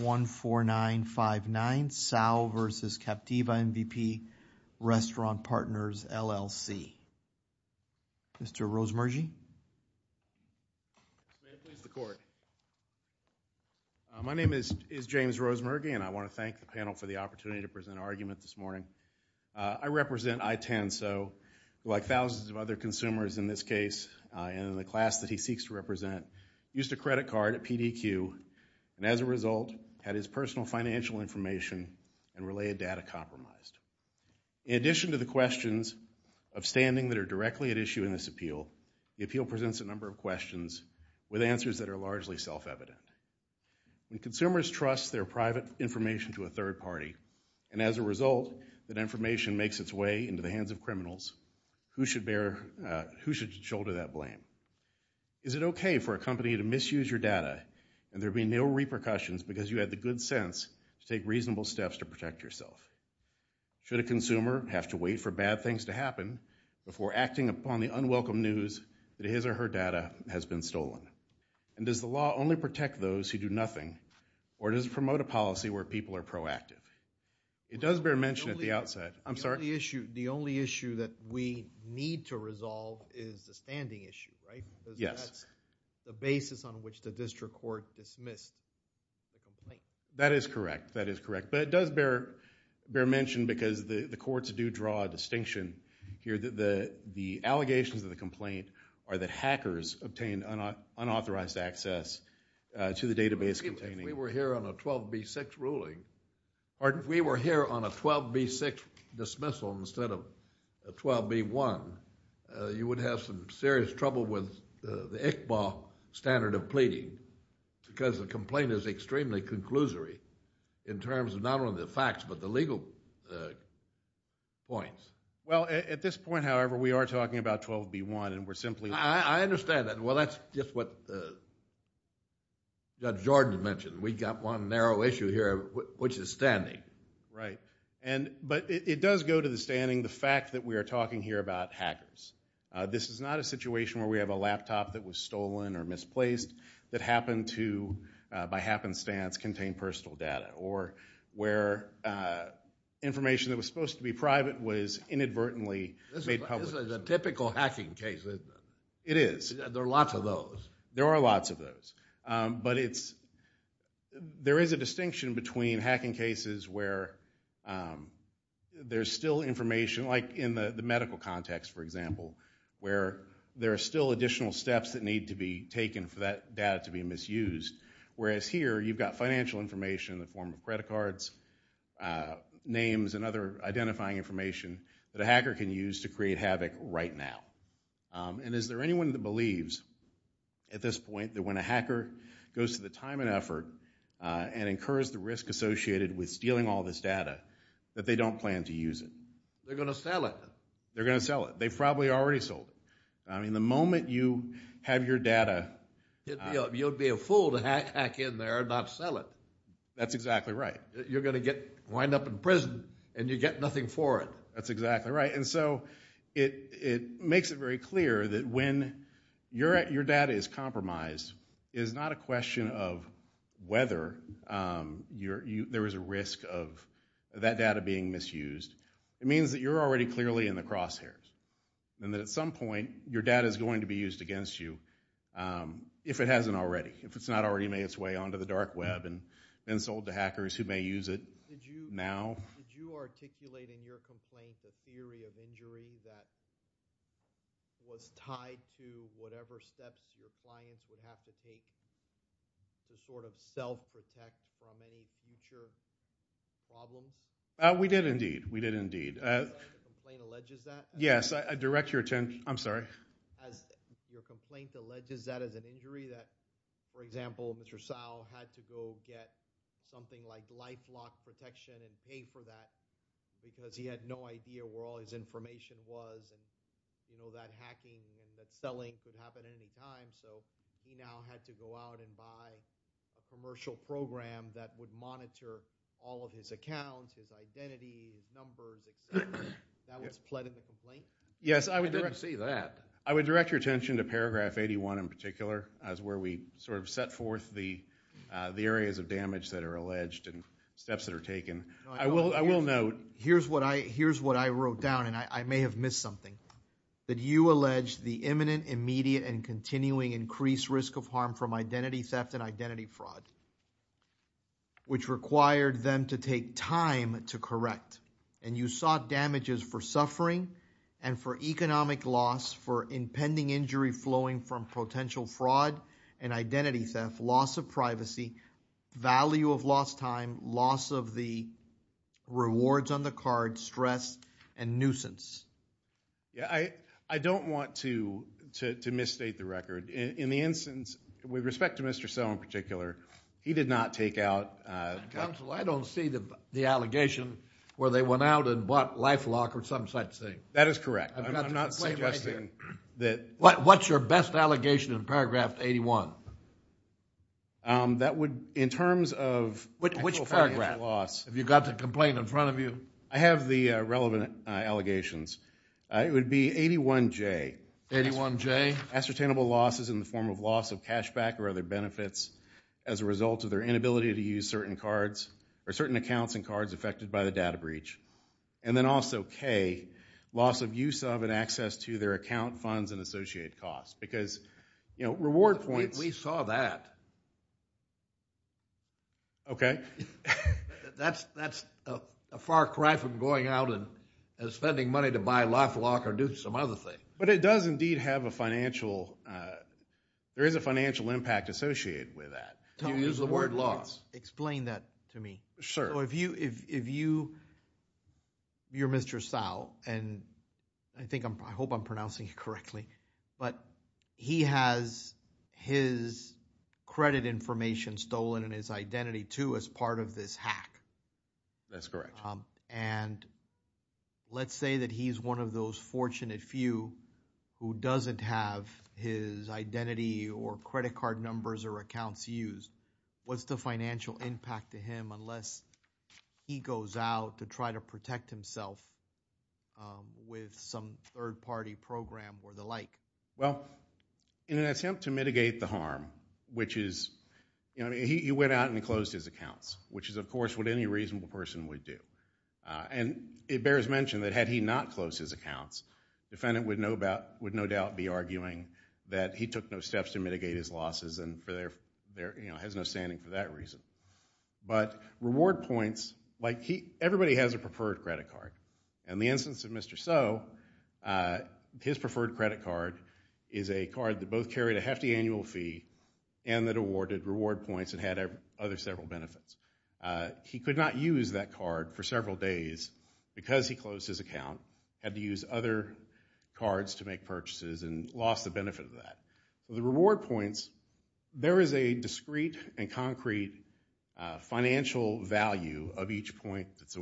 14959 Tsao v. Captiva MVP Restaurant Partners, LLC. Mr. Rosemargie. May it please the court. My name is James Rosemargie and I want to thank the panel for the opportunity to present our argument this morning. I represent I-10, so like thousands of other consumers in this case and the class that he seeks to represent, used a credit card at PDQ and as a result had his personal financial information and related data compromised. In addition to the questions of standing that are directly at issue in this appeal, the appeal presents a number of questions with answers that are largely self-evident. When consumers trust their private information to a third party and as a result that information makes its way into the hands of criminals, who should shoulder that blame? Is it okay for a male repercussions because you had the good sense to take reasonable steps to protect yourself? Should a consumer have to wait for bad things to happen before acting upon the unwelcome news that his or her data has been stolen? And does the law only protect those who do nothing or does it promote a policy where people are proactive? It does bear mention at the outside. I'm sorry. The only issue that we need to resolve is the standing issue, right? Yes. The basis on which the district court dismissed the complaint. That is correct. That is correct. But it does bear mention because the courts do draw a distinction here. The allegations of the complaint are that hackers obtained unauthorized access to the database containing. If we were here on a 12b6 ruling, or if we were here on a 12b6 dismissal instead of 12b1, you would have some serious trouble with the standard of pleading because the complaint is extremely conclusory in terms of not only the facts but the legal points. Well, at this point, however, we are talking about 12b1 and we're simply... I understand that. Well, that's just what Judge Jordan mentioned. We got one narrow issue here, which is standing. Right. But it does go to the standing, the fact that we are talking here about hackers. This is not a situation where we have a laptop that was stolen or misplaced that happened to, by happenstance, contain personal data or where information that was supposed to be private was inadvertently made public. This is a typical hacking case. It is. There are lots of those. There are lots of those. But there is a distinction between hacking cases where there's still information, like in the medical context, for example, where there are still additional steps that need to be taken for that data to be misused. Whereas here, you've got financial information in the form of credit cards, names, and other identifying information that a hacker can use to create havoc right now. And is there anyone that believes at this point that when a hacker goes to the time and effort and incurs the risk associated with stealing all this data that they don't plan to use it? They're going to sell it. They're going to sell it. They've probably already sold it. I mean, the moment you have your data... You'd be a fool to hack in there and not sell it. That's exactly right. You're going to wind up in prison and you get nothing for it. That's exactly right. And so it makes it very clear that when your data is compromised, it is not a question of whether there is a risk of that data being misused. It means that you're already clearly in the crosshairs and that at some point, your data is going to be used against you if it hasn't already, if it's not already made its way onto the dark web and then sold to hackers who may use it now. Did you articulate in your complaint the theory of injury that was tied to whatever steps your clients would have to take to sort of self-protect from any future problems? We did indeed. We did indeed. Yes, I direct your attention. I'm sorry. Your complaint alleges that as an injury that, for example, Mr. Sal had to go get something like lifelock protection and pay for that because he had no idea where all his information was and that hacking and that selling could happen at any time. So he now had to go out and buy a commercial program that would monitor all of his accounts, his identity, his numbers, et cetera. That was pled in the complaint? Yes, I would direct your attention to paragraph 81 in particular as where we sort of set forth the areas of damage that are alleged and steps that are taken. I will note. Here's what I wrote down, and I may have missed something, that you allege the imminent, immediate, and continuing increased risk of harm from identity theft and identity fraud, which required them to take time to correct. And you sought damages for suffering and for privacy, value of lost time, loss of the rewards on the card, stress, and nuisance. Yeah, I don't want to misstate the record. In the instance, with respect to Mr. Sal in particular, he did not take out. Counsel, I don't see the allegation where they went out and bought lifelock or some such thing. That is correct. I'm not suggesting that. What's your best allegation in paragraph 81? That would, in terms of- Which paragraph? Have you got the complaint in front of you? I have the relevant allegations. It would be 81J. 81J? Ascertainable losses in the form of loss of cashback or other benefits as a result of their inability to use certain cards or certain accounts and cards affected by the data breach. And then also K, loss of use of and access to their account funds and associated costs. Because, you know, reward points- We saw that. Okay. That's a far cry from going out and spending money to buy lifelock or do some other thing. But it does indeed have a financial, there is a financial impact associated with that. You use the word loss. Explain that to me. Sure. If you're Mr. Sal, and I think I'm, I hope I'm pronouncing it correctly, but he has his credit information stolen and his identity too as part of this hack. That's correct. And let's say that he's one of those fortunate few who doesn't have his identity or credit card numbers or accounts used. What's the financial impact to him unless he goes out to try to protect himself with some third-party program or the like? Well, in an attempt to mitigate the harm, which is, you know, he went out and closed his accounts, which is, of course, what any reasonable person would do. And it bears mention that had he not closed his accounts, the defendant would no doubt be arguing that he took no steps to mitigate his losses and has no standing for that reason. But reward points, like everybody has a preferred credit card. And the instance of Mr. So, his preferred credit card is a card that both carried a hefty annual fee and that awarded reward points and had other several benefits. He could not use that card for several days because he closed his account, had to use other cards to make purchases, and lost the benefit of that. The reward points, there is a discrete and concrete financial value of each point that's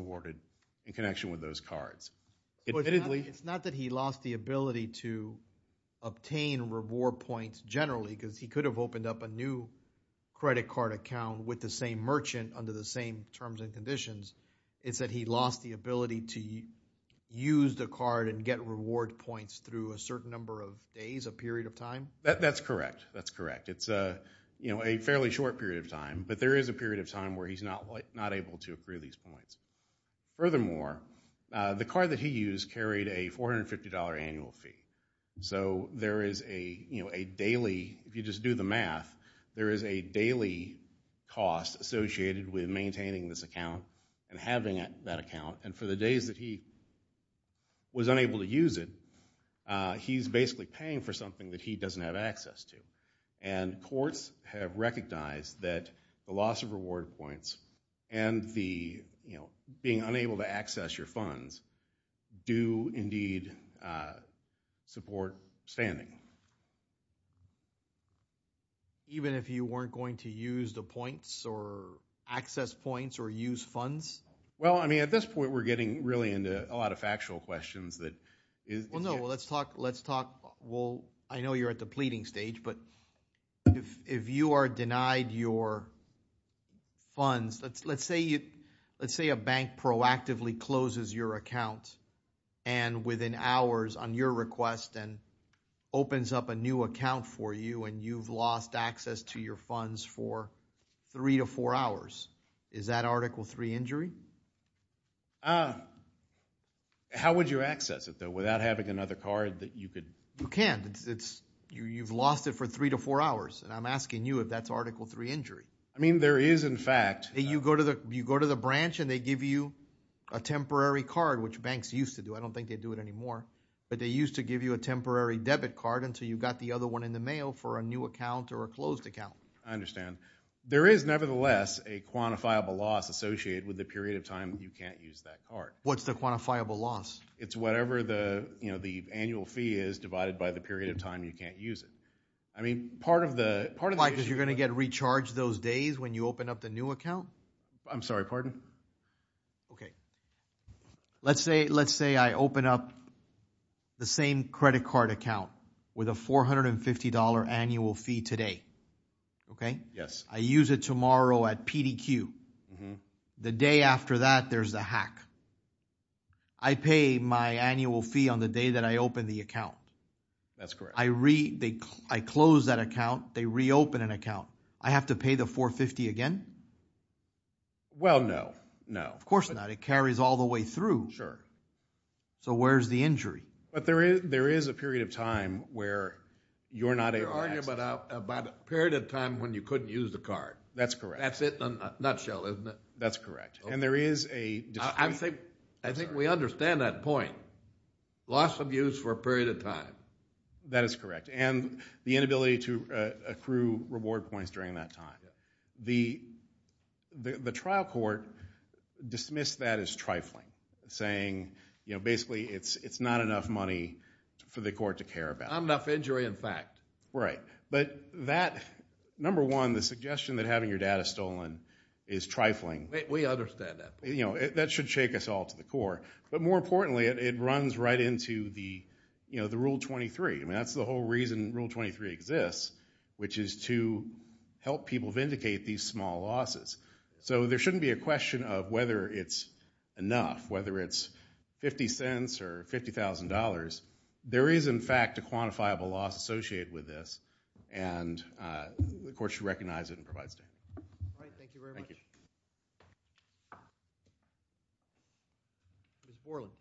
admittedly. It's not that he lost the ability to obtain reward points generally, because he could have opened up a new credit card account with the same merchant under the same terms and conditions. It's that he lost the ability to use the card and get reward points through a certain number of days, a period of time? That's correct. That's correct. It's, you know, a fairly short period of time. But there is a period of time where he's not able to accrue these points. Furthermore, the card that he used carried a $450 annual fee. So, there is a, you know, a daily, if you just do the math, there is a daily cost associated with maintaining this account and having that account. And for the days that he was unable to use it, he's basically paying for something that he doesn't have access to. And courts have recognized that the loss of reward points and the, you know, being unable to access your funds do indeed support standing. Even if you weren't going to use the points or access points or use funds? Well, I mean, at this point, we're getting really into a lot of factual questions that Well, no, let's talk. Let's talk. Well, I know you're at the pleading stage, but if you are denied your funds, let's say you, let's say a bank proactively closes your account and within hours on your request and opens up a new account for you and you've lost access to your funds for three to four hours. Is that Article III injury? How would you access it, though, without having another card that you could You can. It's you've lost it for three to four hours. And I'm asking you if that's Article III injury. I mean, there is, in fact. You go to the you go to the branch and they give you a temporary card, which banks used to do. I don't think they do it anymore. But they used to give you a temporary debit card until you got the other one in the mail for a new account or a closed account. I understand. There is, nevertheless, a quantifiable loss associated with the period of time you can't use that card. What's the quantifiable loss? It's whatever the, you know, the annual fee is divided by the period of time you can't use it. I mean, part of the part of it is you're going to get recharged those days when you open up the new account. I'm sorry, pardon? OK, let's say let's say I open up the same credit card account with a 450 dollar annual fee today. OK, yes, I use it tomorrow at PDQ. The day after that, there's the hack. I pay my annual fee on the day that I open the account. That's correct. I read, I close that account. They reopen an account. I have to pay the 450 again. Well, no, no. Of course not. It carries all the way through. Sure. So where's the injury? But there is there is a period of time where you're not able to access it. You're talking about a period of time when you couldn't use the card. That's correct. That's it in a nutshell, isn't it? That's correct. And there is a dispute. I think we understand that point. Loss of use for a period of time. That is correct. And the inability to accrue reward points during that time. The trial court dismissed that as trifling, saying, you know, basically it's not enough money for the court to care about. Not enough injury, in fact. Right. But that, number one, the suggestion that having your data stolen is trifling. We understand that. That should shake us all to the core. But more importantly, it runs right into the rule 23. I mean, that's the whole reason rule 23 exists, which is to help people vindicate these small losses. So there shouldn't be a question of whether it's enough, whether it's $0.50 or $50,000. There is, in fact, a quantifiable loss associated with this. And the court should recognize it and provide a statement. All right. Thank you very much. Thank you. Ms. Borland.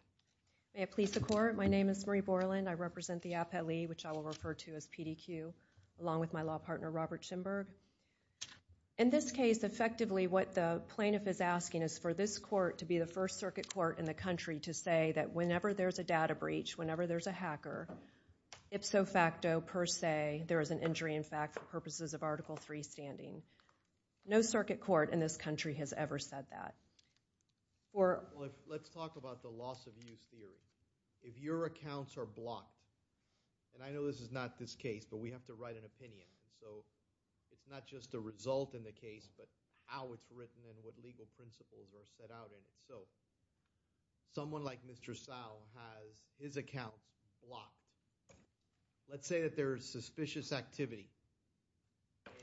May it please the court. My name is Marie Borland. I represent the APELE, which I will refer to as PDQ, along with my law partner, Robert Schimberg. In this case, effectively what the plaintiff is asking is for this court to be the first circuit court in the country to say that whenever there's a data breach, whenever there's a hacker, ipso facto, per se, there is an injury, in fact, for purposes of Article III standing. No circuit court in this country has ever said that. Or let's talk about the loss of use theory. If your accounts are blocked, and I know this is not this case, but we have to write an opinion. So it's not just a result in the case, but how it's written and what legal principles are set out in it. So someone like Mr. Sal has his account blocked. Let's say that there is suspicious activity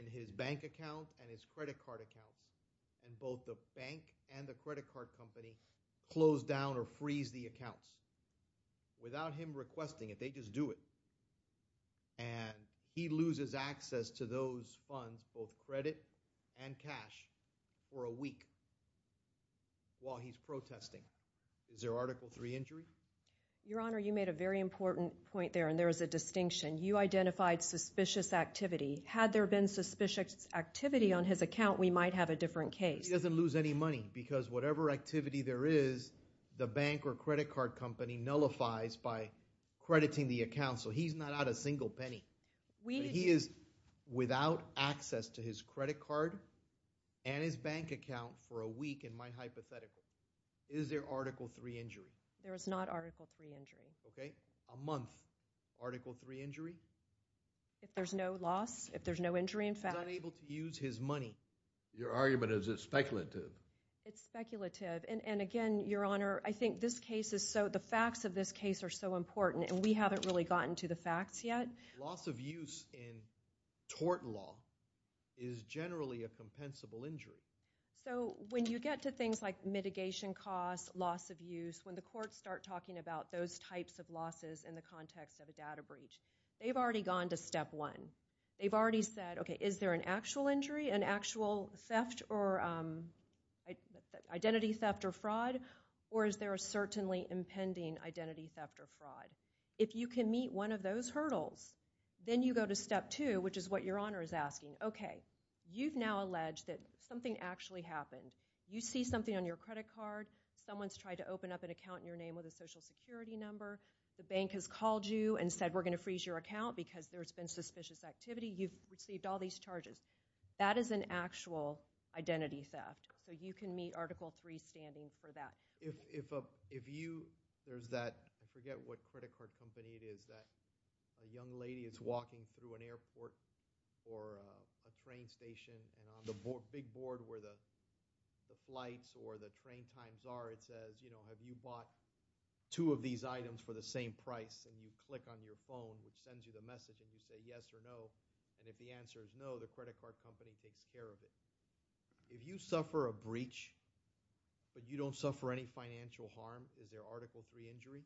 in his bank account and his credit card account, and both the bank and the credit card company close down or freeze the accounts without him requesting it. They just do it. And he loses access to those funds, both credit and cash, for a week while he's protesting. Is there Article III injury? Your Honor, you made a very important point there, and there is a distinction. You identified suspicious activity. Had there been suspicious activity on his account, we might have a different case. But he doesn't lose any money, because whatever activity there is, the bank or credit card company nullifies by crediting the account. So he's not out a single penny. He is without access to his credit card and his bank account for a week, in my hypothetical. Is there Article III injury? There is not Article III injury. Okay. A month, Article III injury? If there's no loss, if there's no injury, in fact. He's unable to use his money. Your argument is it's speculative. It's speculative. And again, Your Honor, I think this case is so, the facts of this case are so important, and we haven't really gotten to the facts yet. Loss of use in tort law is generally a compensable injury. So when you get to things like mitigation costs, loss of use, when the courts start talking about those types of losses in the context of a data breach, they've already gone to step one. They've already said, okay, is there an actual injury, an actual theft or, identity theft or fraud? Or is there a certainly impending identity theft or fraud? If you can meet one of those hurdles, then you go to step two, which is what Your Honor is asking. Okay. You've now alleged that something actually happened. You see something on your credit card. Someone's tried to open up an account in your name with a social security number. The bank has called you and said, we're going to freeze your account because there's been suspicious activity. You've received all these charges. That is an actual identity theft. So you can meet Article III standing for that. If you, there's that, I forget what credit card company it is, that a young lady is walking through an airport or a train station, and on the big board where the flights or the train times are, it says, you know, have you bought two of these items for the same price? And you click on your phone, which sends you the message, and you say yes or no. And if the answer is no, the credit card company takes care of it. If you suffer a breach, but you don't suffer any financial harm, is there Article III injury?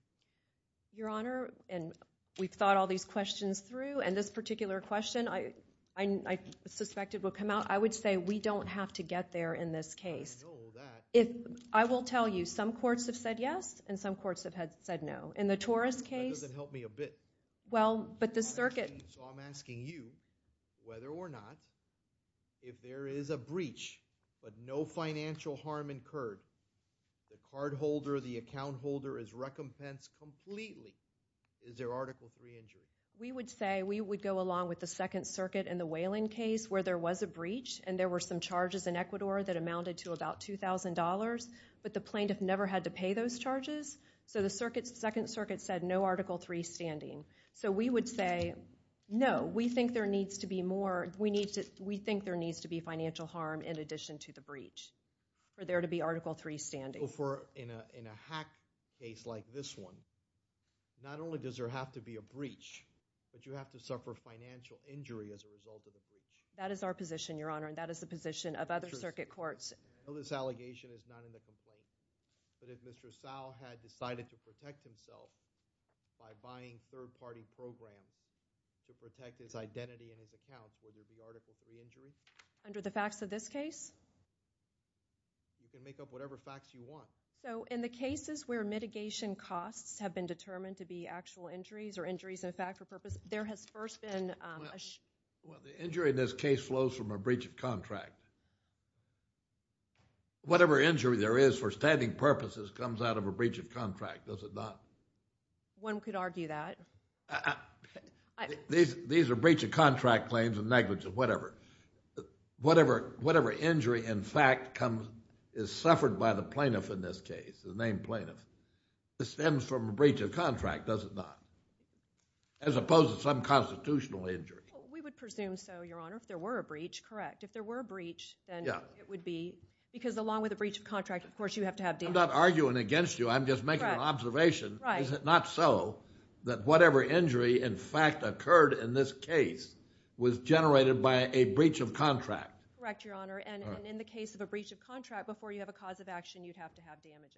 Your Honor, and we've thought all these questions through, and this particular question I, I, I suspected will come out. I would say we don't have to get there in this case. I know that. If, I will tell you, some courts have said yes, and some courts have had, said no. In the Torres case. That doesn't help me a bit. Well, but the circuit. So I'm asking you, whether or not, if there is a breach, but no financial harm incurred, the cardholder, the account holder is recompensed completely, is there Article III injury? We would say, we would go along with the Second Circuit in the Whelan case, where there was a breach, and there were some charges in Ecuador that amounted to about $2,000, but the plaintiff never had to pay those charges. So the circuit, Second Circuit said no Article III standing. So we would say, no, we think there needs to be more, we need to, we think there needs to be financial harm in addition to the breach, for there to be Article III standing. So for, in a, in a hack case like this one, not only does there have to be a breach, but you have to suffer financial injury as a result of the breach. That is our position, Your Honor, and that is the position of other circuit courts. I know this allegation is not in the complaint, but if Mr. Sowell had decided to protect himself by buying third-party programs to protect his identity and his account, would there be Article III injury? Under the facts of this case? You can make up whatever facts you want. So in the cases where mitigation costs have been determined to be actual injuries, or injuries in fact or purpose, there has first been a... The injury in this case flows from a breach of contract. Whatever injury there is for standing purposes comes out of a breach of contract, does it not? One could argue that. These are breach of contract claims and negligence, whatever. Whatever, whatever injury in fact comes, is suffered by the plaintiff in this case, the named plaintiff, stems from a breach of contract, does it not? As opposed to some constitutional injury. We would presume so, Your Honor, if there were a breach, correct. If there were a breach, then it would be... Because along with a breach of contract, of course, you have to have damage. I'm not arguing against you, I'm just making an observation. Is it not so that whatever injury in fact occurred in this case was generated by a breach of contract? Correct, Your Honor, and in the case of a breach of contract, before you have a cause of action, you'd have to have damages.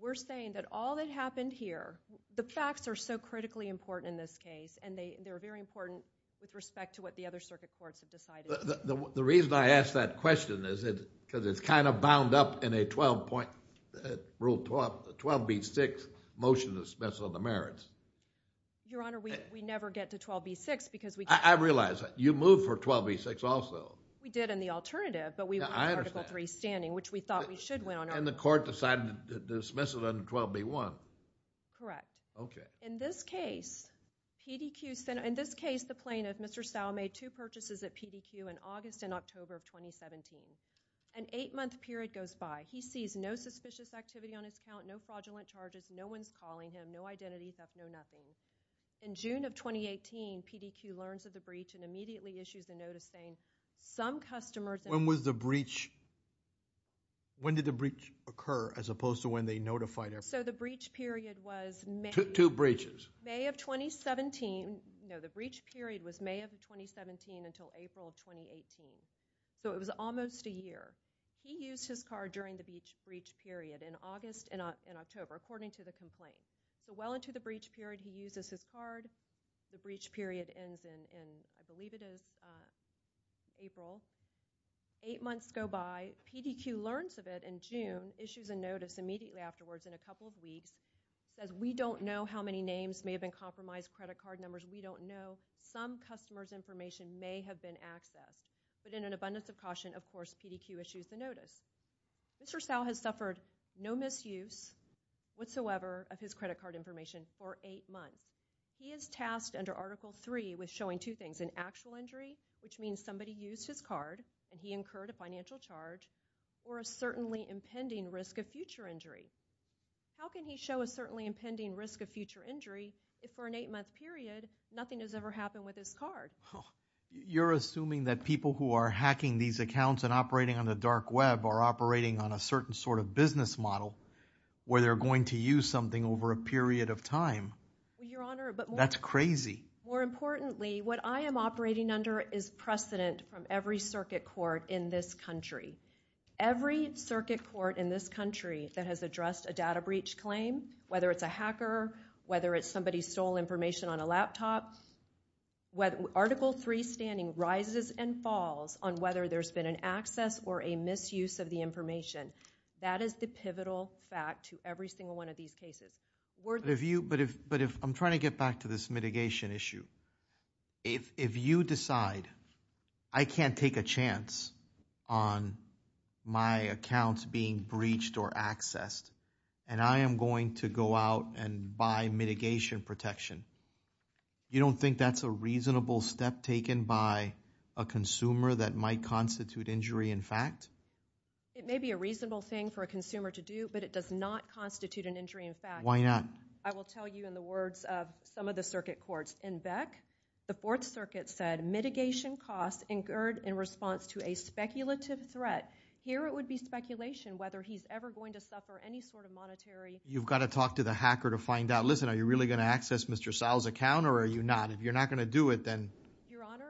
We're saying that all that happened here, the facts are so critically important in this case, and they're very important with respect to what the other circuit courts have decided. The reason I ask that question is because it's kind of bound up in a 12 point, Rule 12B6 motion to dismiss on the merits. Your Honor, we never get to 12B6 because we... I realize that. You moved for 12B6 also. We did in the alternative, but we wanted Article 3 standing, which we thought we should, Your Honor. And the court decided to dismiss it under 12B1. Correct. Okay. In this case, the plaintiff, Mr. Stowell, made two purchases at PDQ in August and October of 2017. An eight month period goes by. He sees no suspicious activity on his count, no fraudulent charges, no one's calling him, no identities up, no nothing. In June of 2018, PDQ learns of the breach and immediately issues a notice saying some customers... When was the breach... When did the breach occur as opposed to when they notified... So the breach period was... Two breaches. May of 2017. No, the breach period was May of 2017 until April of 2018. So it was almost a year. He used his card during the breach period in August and October, according to the complaint. So well into the breach period, he uses his card. The breach period ends in, I believe it is April. Eight months go by. PDQ learns of it in June, issues a notice immediately afterwards in a couple of weeks, says, we don't know how many names may have been compromised, credit card numbers, we don't know. Some customers' information may have been accessed. But in an abundance of caution, of course, PDQ issues the notice. Mr. Stowell has suffered no misuse whatsoever of his credit card information for eight months. He is tasked under Article 3 with showing two things, an actual injury, which means somebody used his card and he incurred a financial charge, or a certainly impending risk of future injury. How can he show a certainly impending risk of future injury if for an eight-month period, nothing has ever happened with his card? Oh, you're assuming that people who are hacking these accounts and operating on the dark web are operating on a certain sort of business model where they're going to use something over a period of time? Well, Your Honor, but more... That's crazy. More importantly, what I am operating under is precedent from every circuit court in this country. Every circuit court in this country that has addressed a data breach claim, whether it's a hacker, whether it's somebody stole information on a laptop, Article 3 standing rises and falls on whether there's been an access or a misuse of the information. That is the pivotal fact to every single one of these cases. But if I'm trying to get back to this mitigation issue, if you decide I can't take a chance on my accounts being breached or accessed and I am going to go out and buy mitigation protection, you don't think that's a reasonable step taken by a consumer that might constitute injury in fact? It may be a reasonable thing for a consumer to do, but it does not constitute an injury in fact. Why not? I will tell you in the words of some of the circuit courts. In Beck, the Fourth Circuit said, Mitigation costs incurred in response to a speculative threat. Here it would be speculation whether he's ever going to suffer any sort of monetary. You've got to talk to the hacker to find out. Listen, are you really going to access Mr. Sal's account or are you not? If you're not going to do it, then. Your Honor.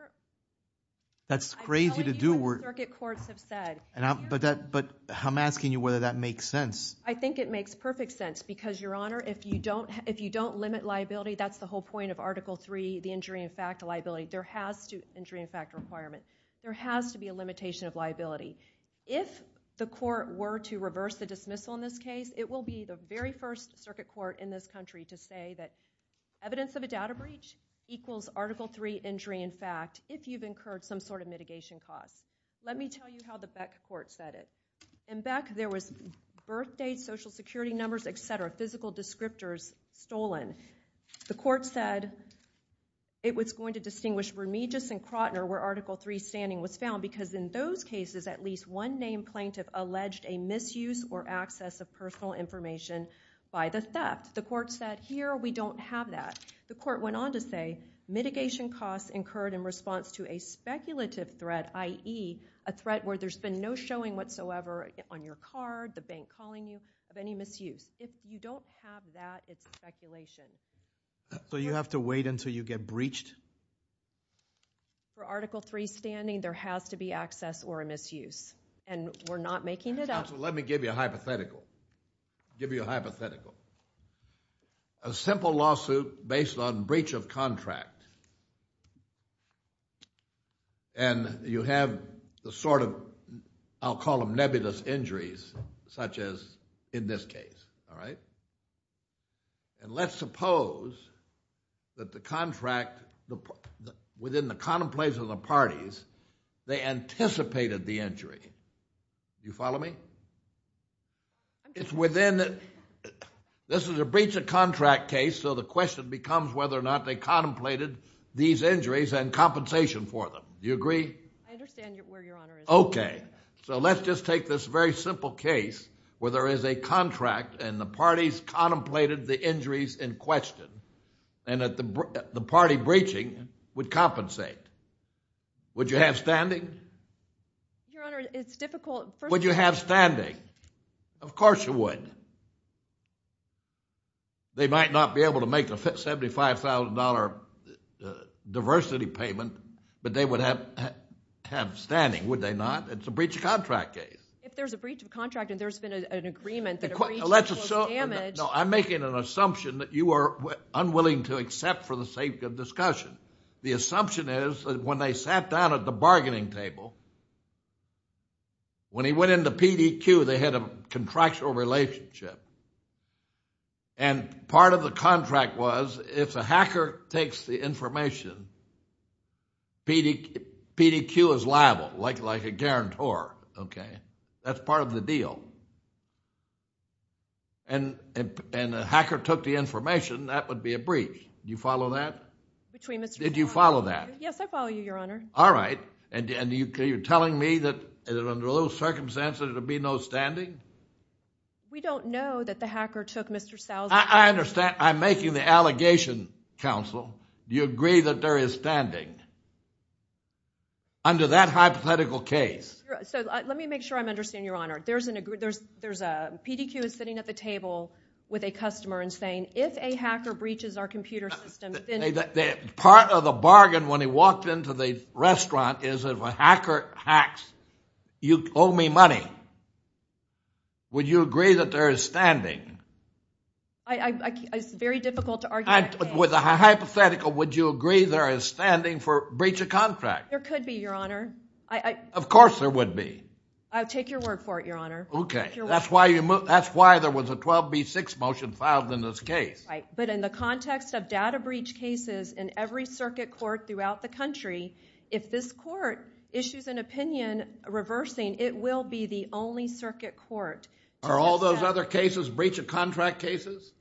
That's crazy to do. I'm telling you what the circuit courts have said. But I'm asking you whether that makes sense. I think it makes perfect sense because, Your Honor, if you don't limit liability, that's the whole point of Article 3, the injury in fact liability. Injury in fact requirement. There has to be a limitation of liability. If the court were to reverse the dismissal in this case, it will be the very first circuit court in this country to say that evidence of a data breach equals Article 3 injury in fact if you've incurred some sort of mitigation cost. Let me tell you how the Beck court said it. In Beck, there was birth date, social security numbers, et cetera, physical descriptors stolen. The court said it was going to distinguish Remiges and Krotner where Article 3 standing was found because in those cases, at least one named plaintiff alleged a misuse or access of personal information by the theft. The court said, here we don't have that. The court went on to say mitigation costs incurred in response to a speculative threat, i.e. a threat where there's been no showing whatsoever on your card, the bank calling you, of any misuse. If you don't have that, it's speculation. So you have to wait until you get breached? For Article 3 standing, there has to be access or a misuse and we're not making it up. Let me give you a hypothetical. Give you a hypothetical. A simple lawsuit based on breach of contract and you have the sort of, I'll call them nebulous injuries such as in this case. All right? And let's suppose that the contract, within the contemplation of the parties, they anticipated the injury. You follow me? It's within, this is a breach of contract case, so the question becomes whether or not they contemplated these injuries and compensation for them. Do you agree? I understand where your honor is. Okay. So let's just take this very simple case where there is a contract and the parties contemplated the injuries in question and that the party breaching would compensate. Would you have standing? Your honor, it's difficult. Would you have standing? Of course you would. They might not be able to make a $75,000 diversity payment, but they would have standing, would they not? It's a breach of contract case. If there's a breach of contract and there's been an agreement that a breach was damaged. No, I'm making an assumption that you are unwilling to accept for the sake of discussion. The assumption is that when they sat down at the bargaining table, when he went into PDQ, they had a contractual relationship. And part of the contract was if a hacker takes the information, PDQ is liable, like a guarantor. Okay. That's part of the deal. And if a hacker took the information, that would be a breach. Do you follow that? Between Mr. Did you follow that? Yes, I follow you, your honor. All right. And you're telling me that under those circumstances, there would be no standing? We don't know that the hacker took Mr. Sousa. I understand. I'm making the allegation, counsel. Do you agree that there is standing under that hypothetical case? So let me make sure I'm understanding, your honor. There's a PDQ is sitting at the table with a customer and saying, if a hacker breaches our computer system, Part of the bargain when he walked into the restaurant is if a hacker hacks, you owe me money. Would you agree that there is standing? It's very difficult to argue. With a hypothetical, would you agree there is standing for breach of contract? There could be, your honor. Of course, there would be. I'll take your word for it, your honor. Okay. That's why there was a 12B6 motion filed in this case. Right. But in the context of data breach cases in every circuit court throughout the country, if this court issues an opinion reversing, it will be the only circuit court. Are all those other cases breach of contract cases?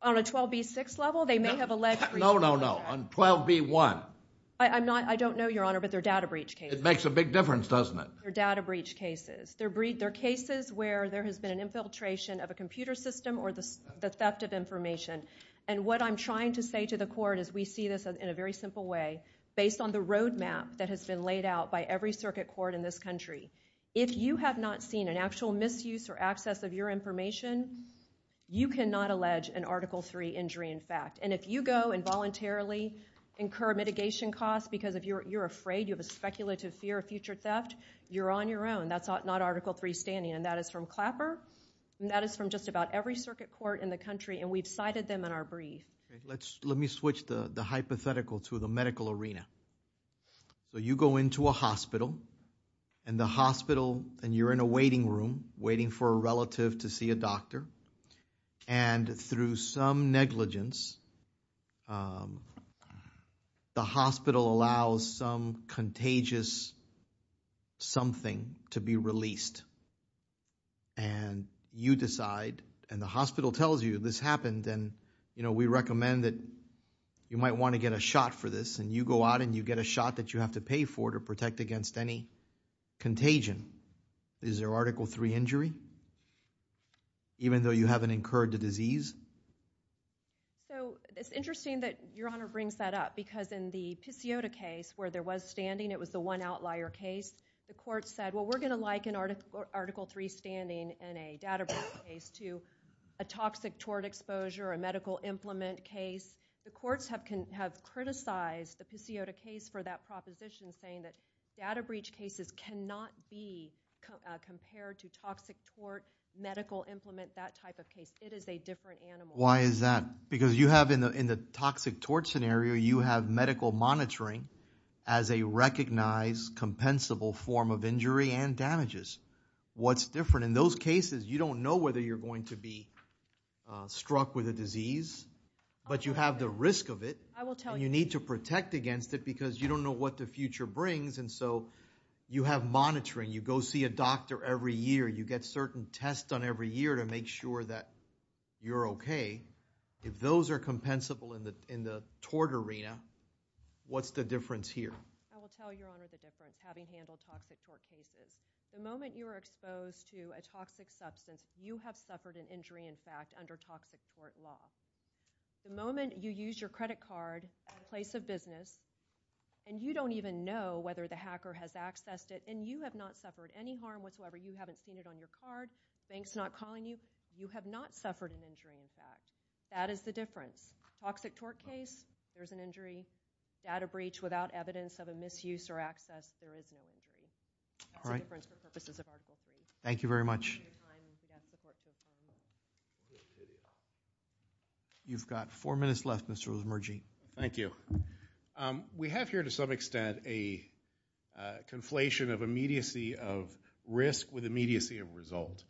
On a 12B6 level, they may have alleged. No, no, no. On 12B1. I don't know, your honor, but they're data breach cases. It makes a big difference, doesn't it? They're data breach cases. They're cases where there has been an infiltration of a computer system or the theft of information. And what I'm trying to say to the court is we see this in a very simple way, based on the roadmap that has been laid out by every circuit court in this country. If you have not seen an actual misuse or access of your information, you cannot allege an Article III injury in fact. And if you go and voluntarily incur mitigation costs because you're afraid, you have a speculative fear of future theft, you're on your own. That's not Article III standing. And that is from Clapper, and that is from just about every circuit court in the country, and we've cited them in our brief. Okay, let me switch the hypothetical to the medical arena. So you go into a hospital, and the hospital, and you're in a waiting room, waiting for a relative to see a doctor. And through some negligence, the hospital allows some contagious something to be released. And you decide, and the hospital tells you this happened, and we recommend that you might want to get a shot for this. And you go out and you get a shot that you have to pay for to protect against any contagion. Is there Article III injury? Even though you haven't incurred the disease? So it's interesting that Your Honor brings that up because in the Pisiota case, where there was standing, it was the one outlier case. The court said, well, we're gonna liken Article III standing in a data breach case to a toxic tort exposure, a medical implement case. The courts have criticized the Pisiota case for that proposition, saying that data breach cases cannot be compared to toxic tort, medical implement, that type of case. It is a different animal. Why is that? Because you have in the toxic tort scenario, you have medical monitoring as a recognized compensable form of injury and damages. What's different in those cases, you don't know whether you're going to be struck with a disease, but you have the risk of it. And you need to protect against it because you don't know what the future brings. And so you have monitoring. You go see a doctor every year. You get certain tests done every year to make sure that you're okay. If those are compensable in the tort arena, what's the difference here? I will tell Your Honor the difference, having handled toxic tort cases. The moment you are exposed to a toxic substance, you have suffered an injury, in fact, under toxic tort law. The moment you use your credit card at a place of business, and you don't even know whether the hacker has accessed it, and you have not suffered any harm whatsoever, you haven't seen it on your card, bank's not calling you, you have not suffered an injury, in fact. That is the difference. Toxic tort case, there's an injury. Data breach without evidence of a misuse or access, there is no injury. That's the difference for purposes of Article 3. Thank you very much. You've got four minutes left, Mr. Rosemargin. Thank you. We have here, to some extent, a conflation of immediacy of risk with immediacy of result.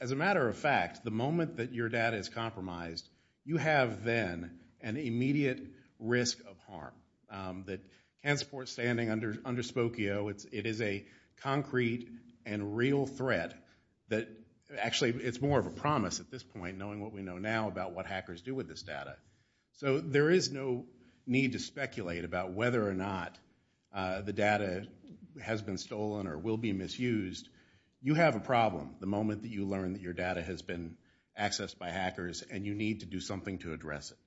As a matter of fact, the moment that your data is compromised, you have, then, an immediate risk of harm that can support standing under Spokio. It is a concrete and real threat that, actually, it's more of a promise at this point, knowing what we know now about what hackers do with this data. So there is no need to speculate or will be misused. You have a problem. The moment that you learn that your data has been accessed by hackers and you need to do something to address it.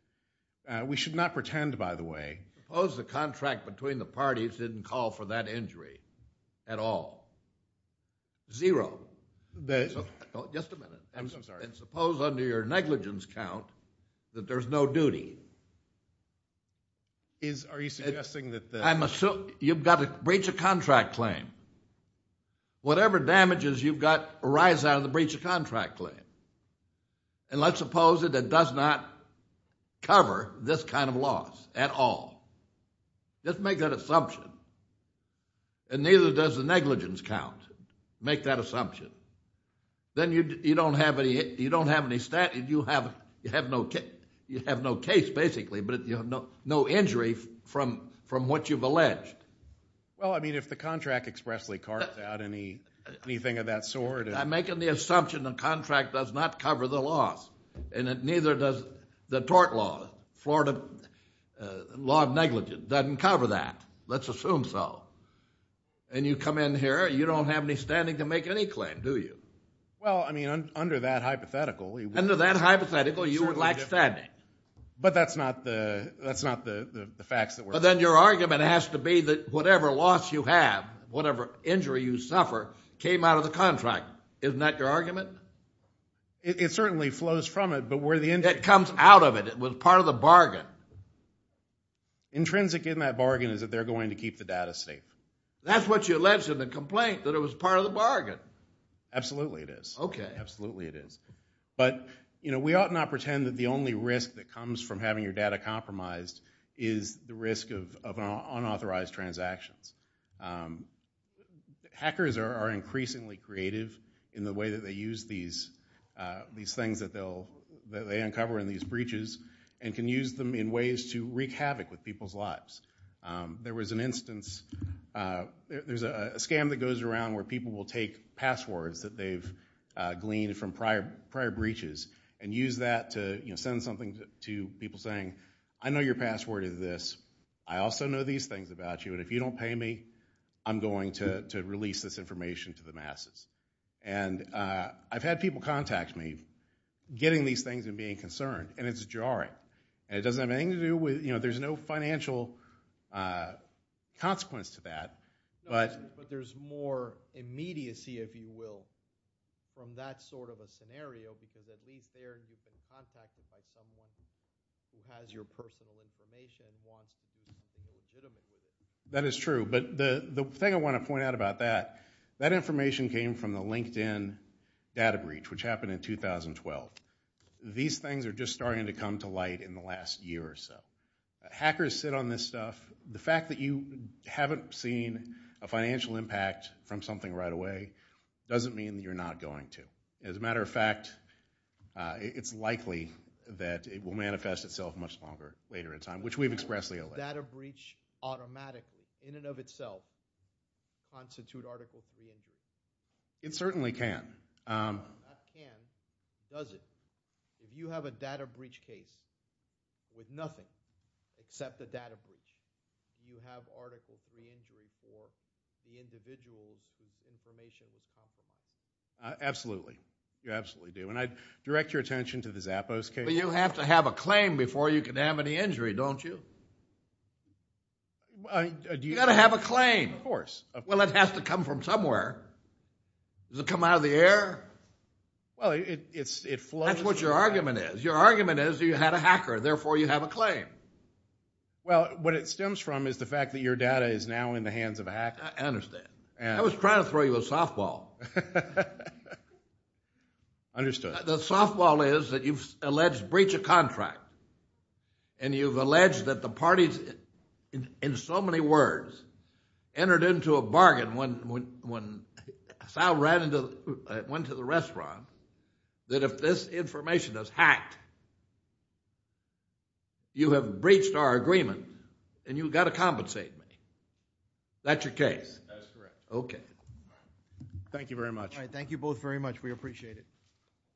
We should not pretend, by the way... Suppose the contract between the parties didn't call for that injury at all. Zero. Just a minute. I'm sorry. And suppose, under your negligence count, that there's no duty. Are you suggesting that... I'm assuming... You've got to breach a contract claim. Whatever damages you've got arise out of the breach of contract claim. And let's suppose that it does not cover this kind of loss at all. Just make that assumption. And neither does the negligence count. Make that assumption. Then you don't have any... You don't have any... You have no case, basically, but you have no injury from what you've alleged. Well, I mean, if the contract expressly carves out anything of that sort... I'm making the assumption the contract does not cover the loss. And neither does the tort law, Florida law of negligence, doesn't cover that. Let's assume so. And you come in here, you don't have any standing to make any claim, do you? Well, I mean, under that hypothetical... Under that hypothetical, you would lack standing. But that's not the facts that we're... Then your argument has to be that whatever loss you have, whatever injury you suffer, came out of the contract. Isn't that your argument? It certainly flows from it, but where the... It comes out of it. It was part of the bargain. Intrinsic in that bargain is that they're going to keep the data safe. That's what you alleged in the complaint, that it was part of the bargain. Absolutely it is. Okay. Absolutely it is. But we ought not pretend that the only risk that comes from having your data compromised is the risk of unauthorized transactions. Hackers are increasingly creative in the way that they use these things that they uncover in these breaches and can use them in ways to wreak havoc with people's lives. There was an instance... There's a scam that goes around where people will take passwords that they've gleaned from prior breaches and use that to send something to people saying, I know your password is this. I also know these things about you, and if you don't pay me, I'm going to release this information to the masses. I've had people contact me getting these things and being concerned, and it's jarring. And it doesn't have anything to do with... There's no financial consequence to that. But there's more immediacy, if you will, from that sort of a scenario because at least there you've been contacted by someone who has your personal information and wants to use it legitimately. That is true. But the thing I want to point out about that, that information came from the LinkedIn data breach, which happened in 2012. These things are just starting to come to light in the last year or so. Hackers sit on this stuff. The fact that you haven't seen a financial impact from something right away doesn't mean that you're not going to. As a matter of fact, it's likely that it will manifest itself much longer later in time, which we've expressedly alleged. Data breach automatically, in and of itself, constitute Article III injury? It certainly can. Not can, does it? If you have a data breach case with nothing except a data breach, do you have Article III injury for the individuals whose information was compromised? Absolutely. You absolutely do. And I direct your attention to the Zappos case. But you have to have a claim before you can have any injury, don't you? You've got to have a claim. Of course. Well, it has to come from somewhere. Does it come out of the air? Well, it flows. That's what your argument is. Your argument is you had a hacker, therefore you have a claim. Well, what it stems from is the fact that your data is now in the hands of a hacker. I understand. I was trying to throw you a softball. Understood. The softball is that you've alleged breach of contract. And you've alleged that the parties, in so many words, entered into a bargain when Sal went to the restaurant, that if this information is hacked, you have breached our agreement and you've got to compensate me. That's your case? That's correct. Okay. Thank you very much. Thank you both very much. We appreciate it. Thank you.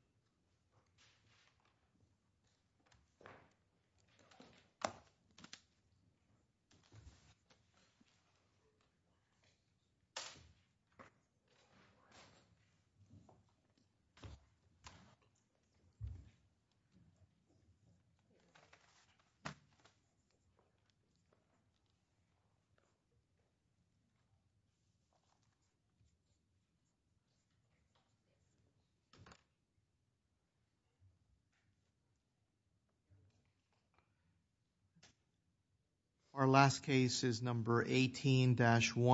Our last case is number 18-1.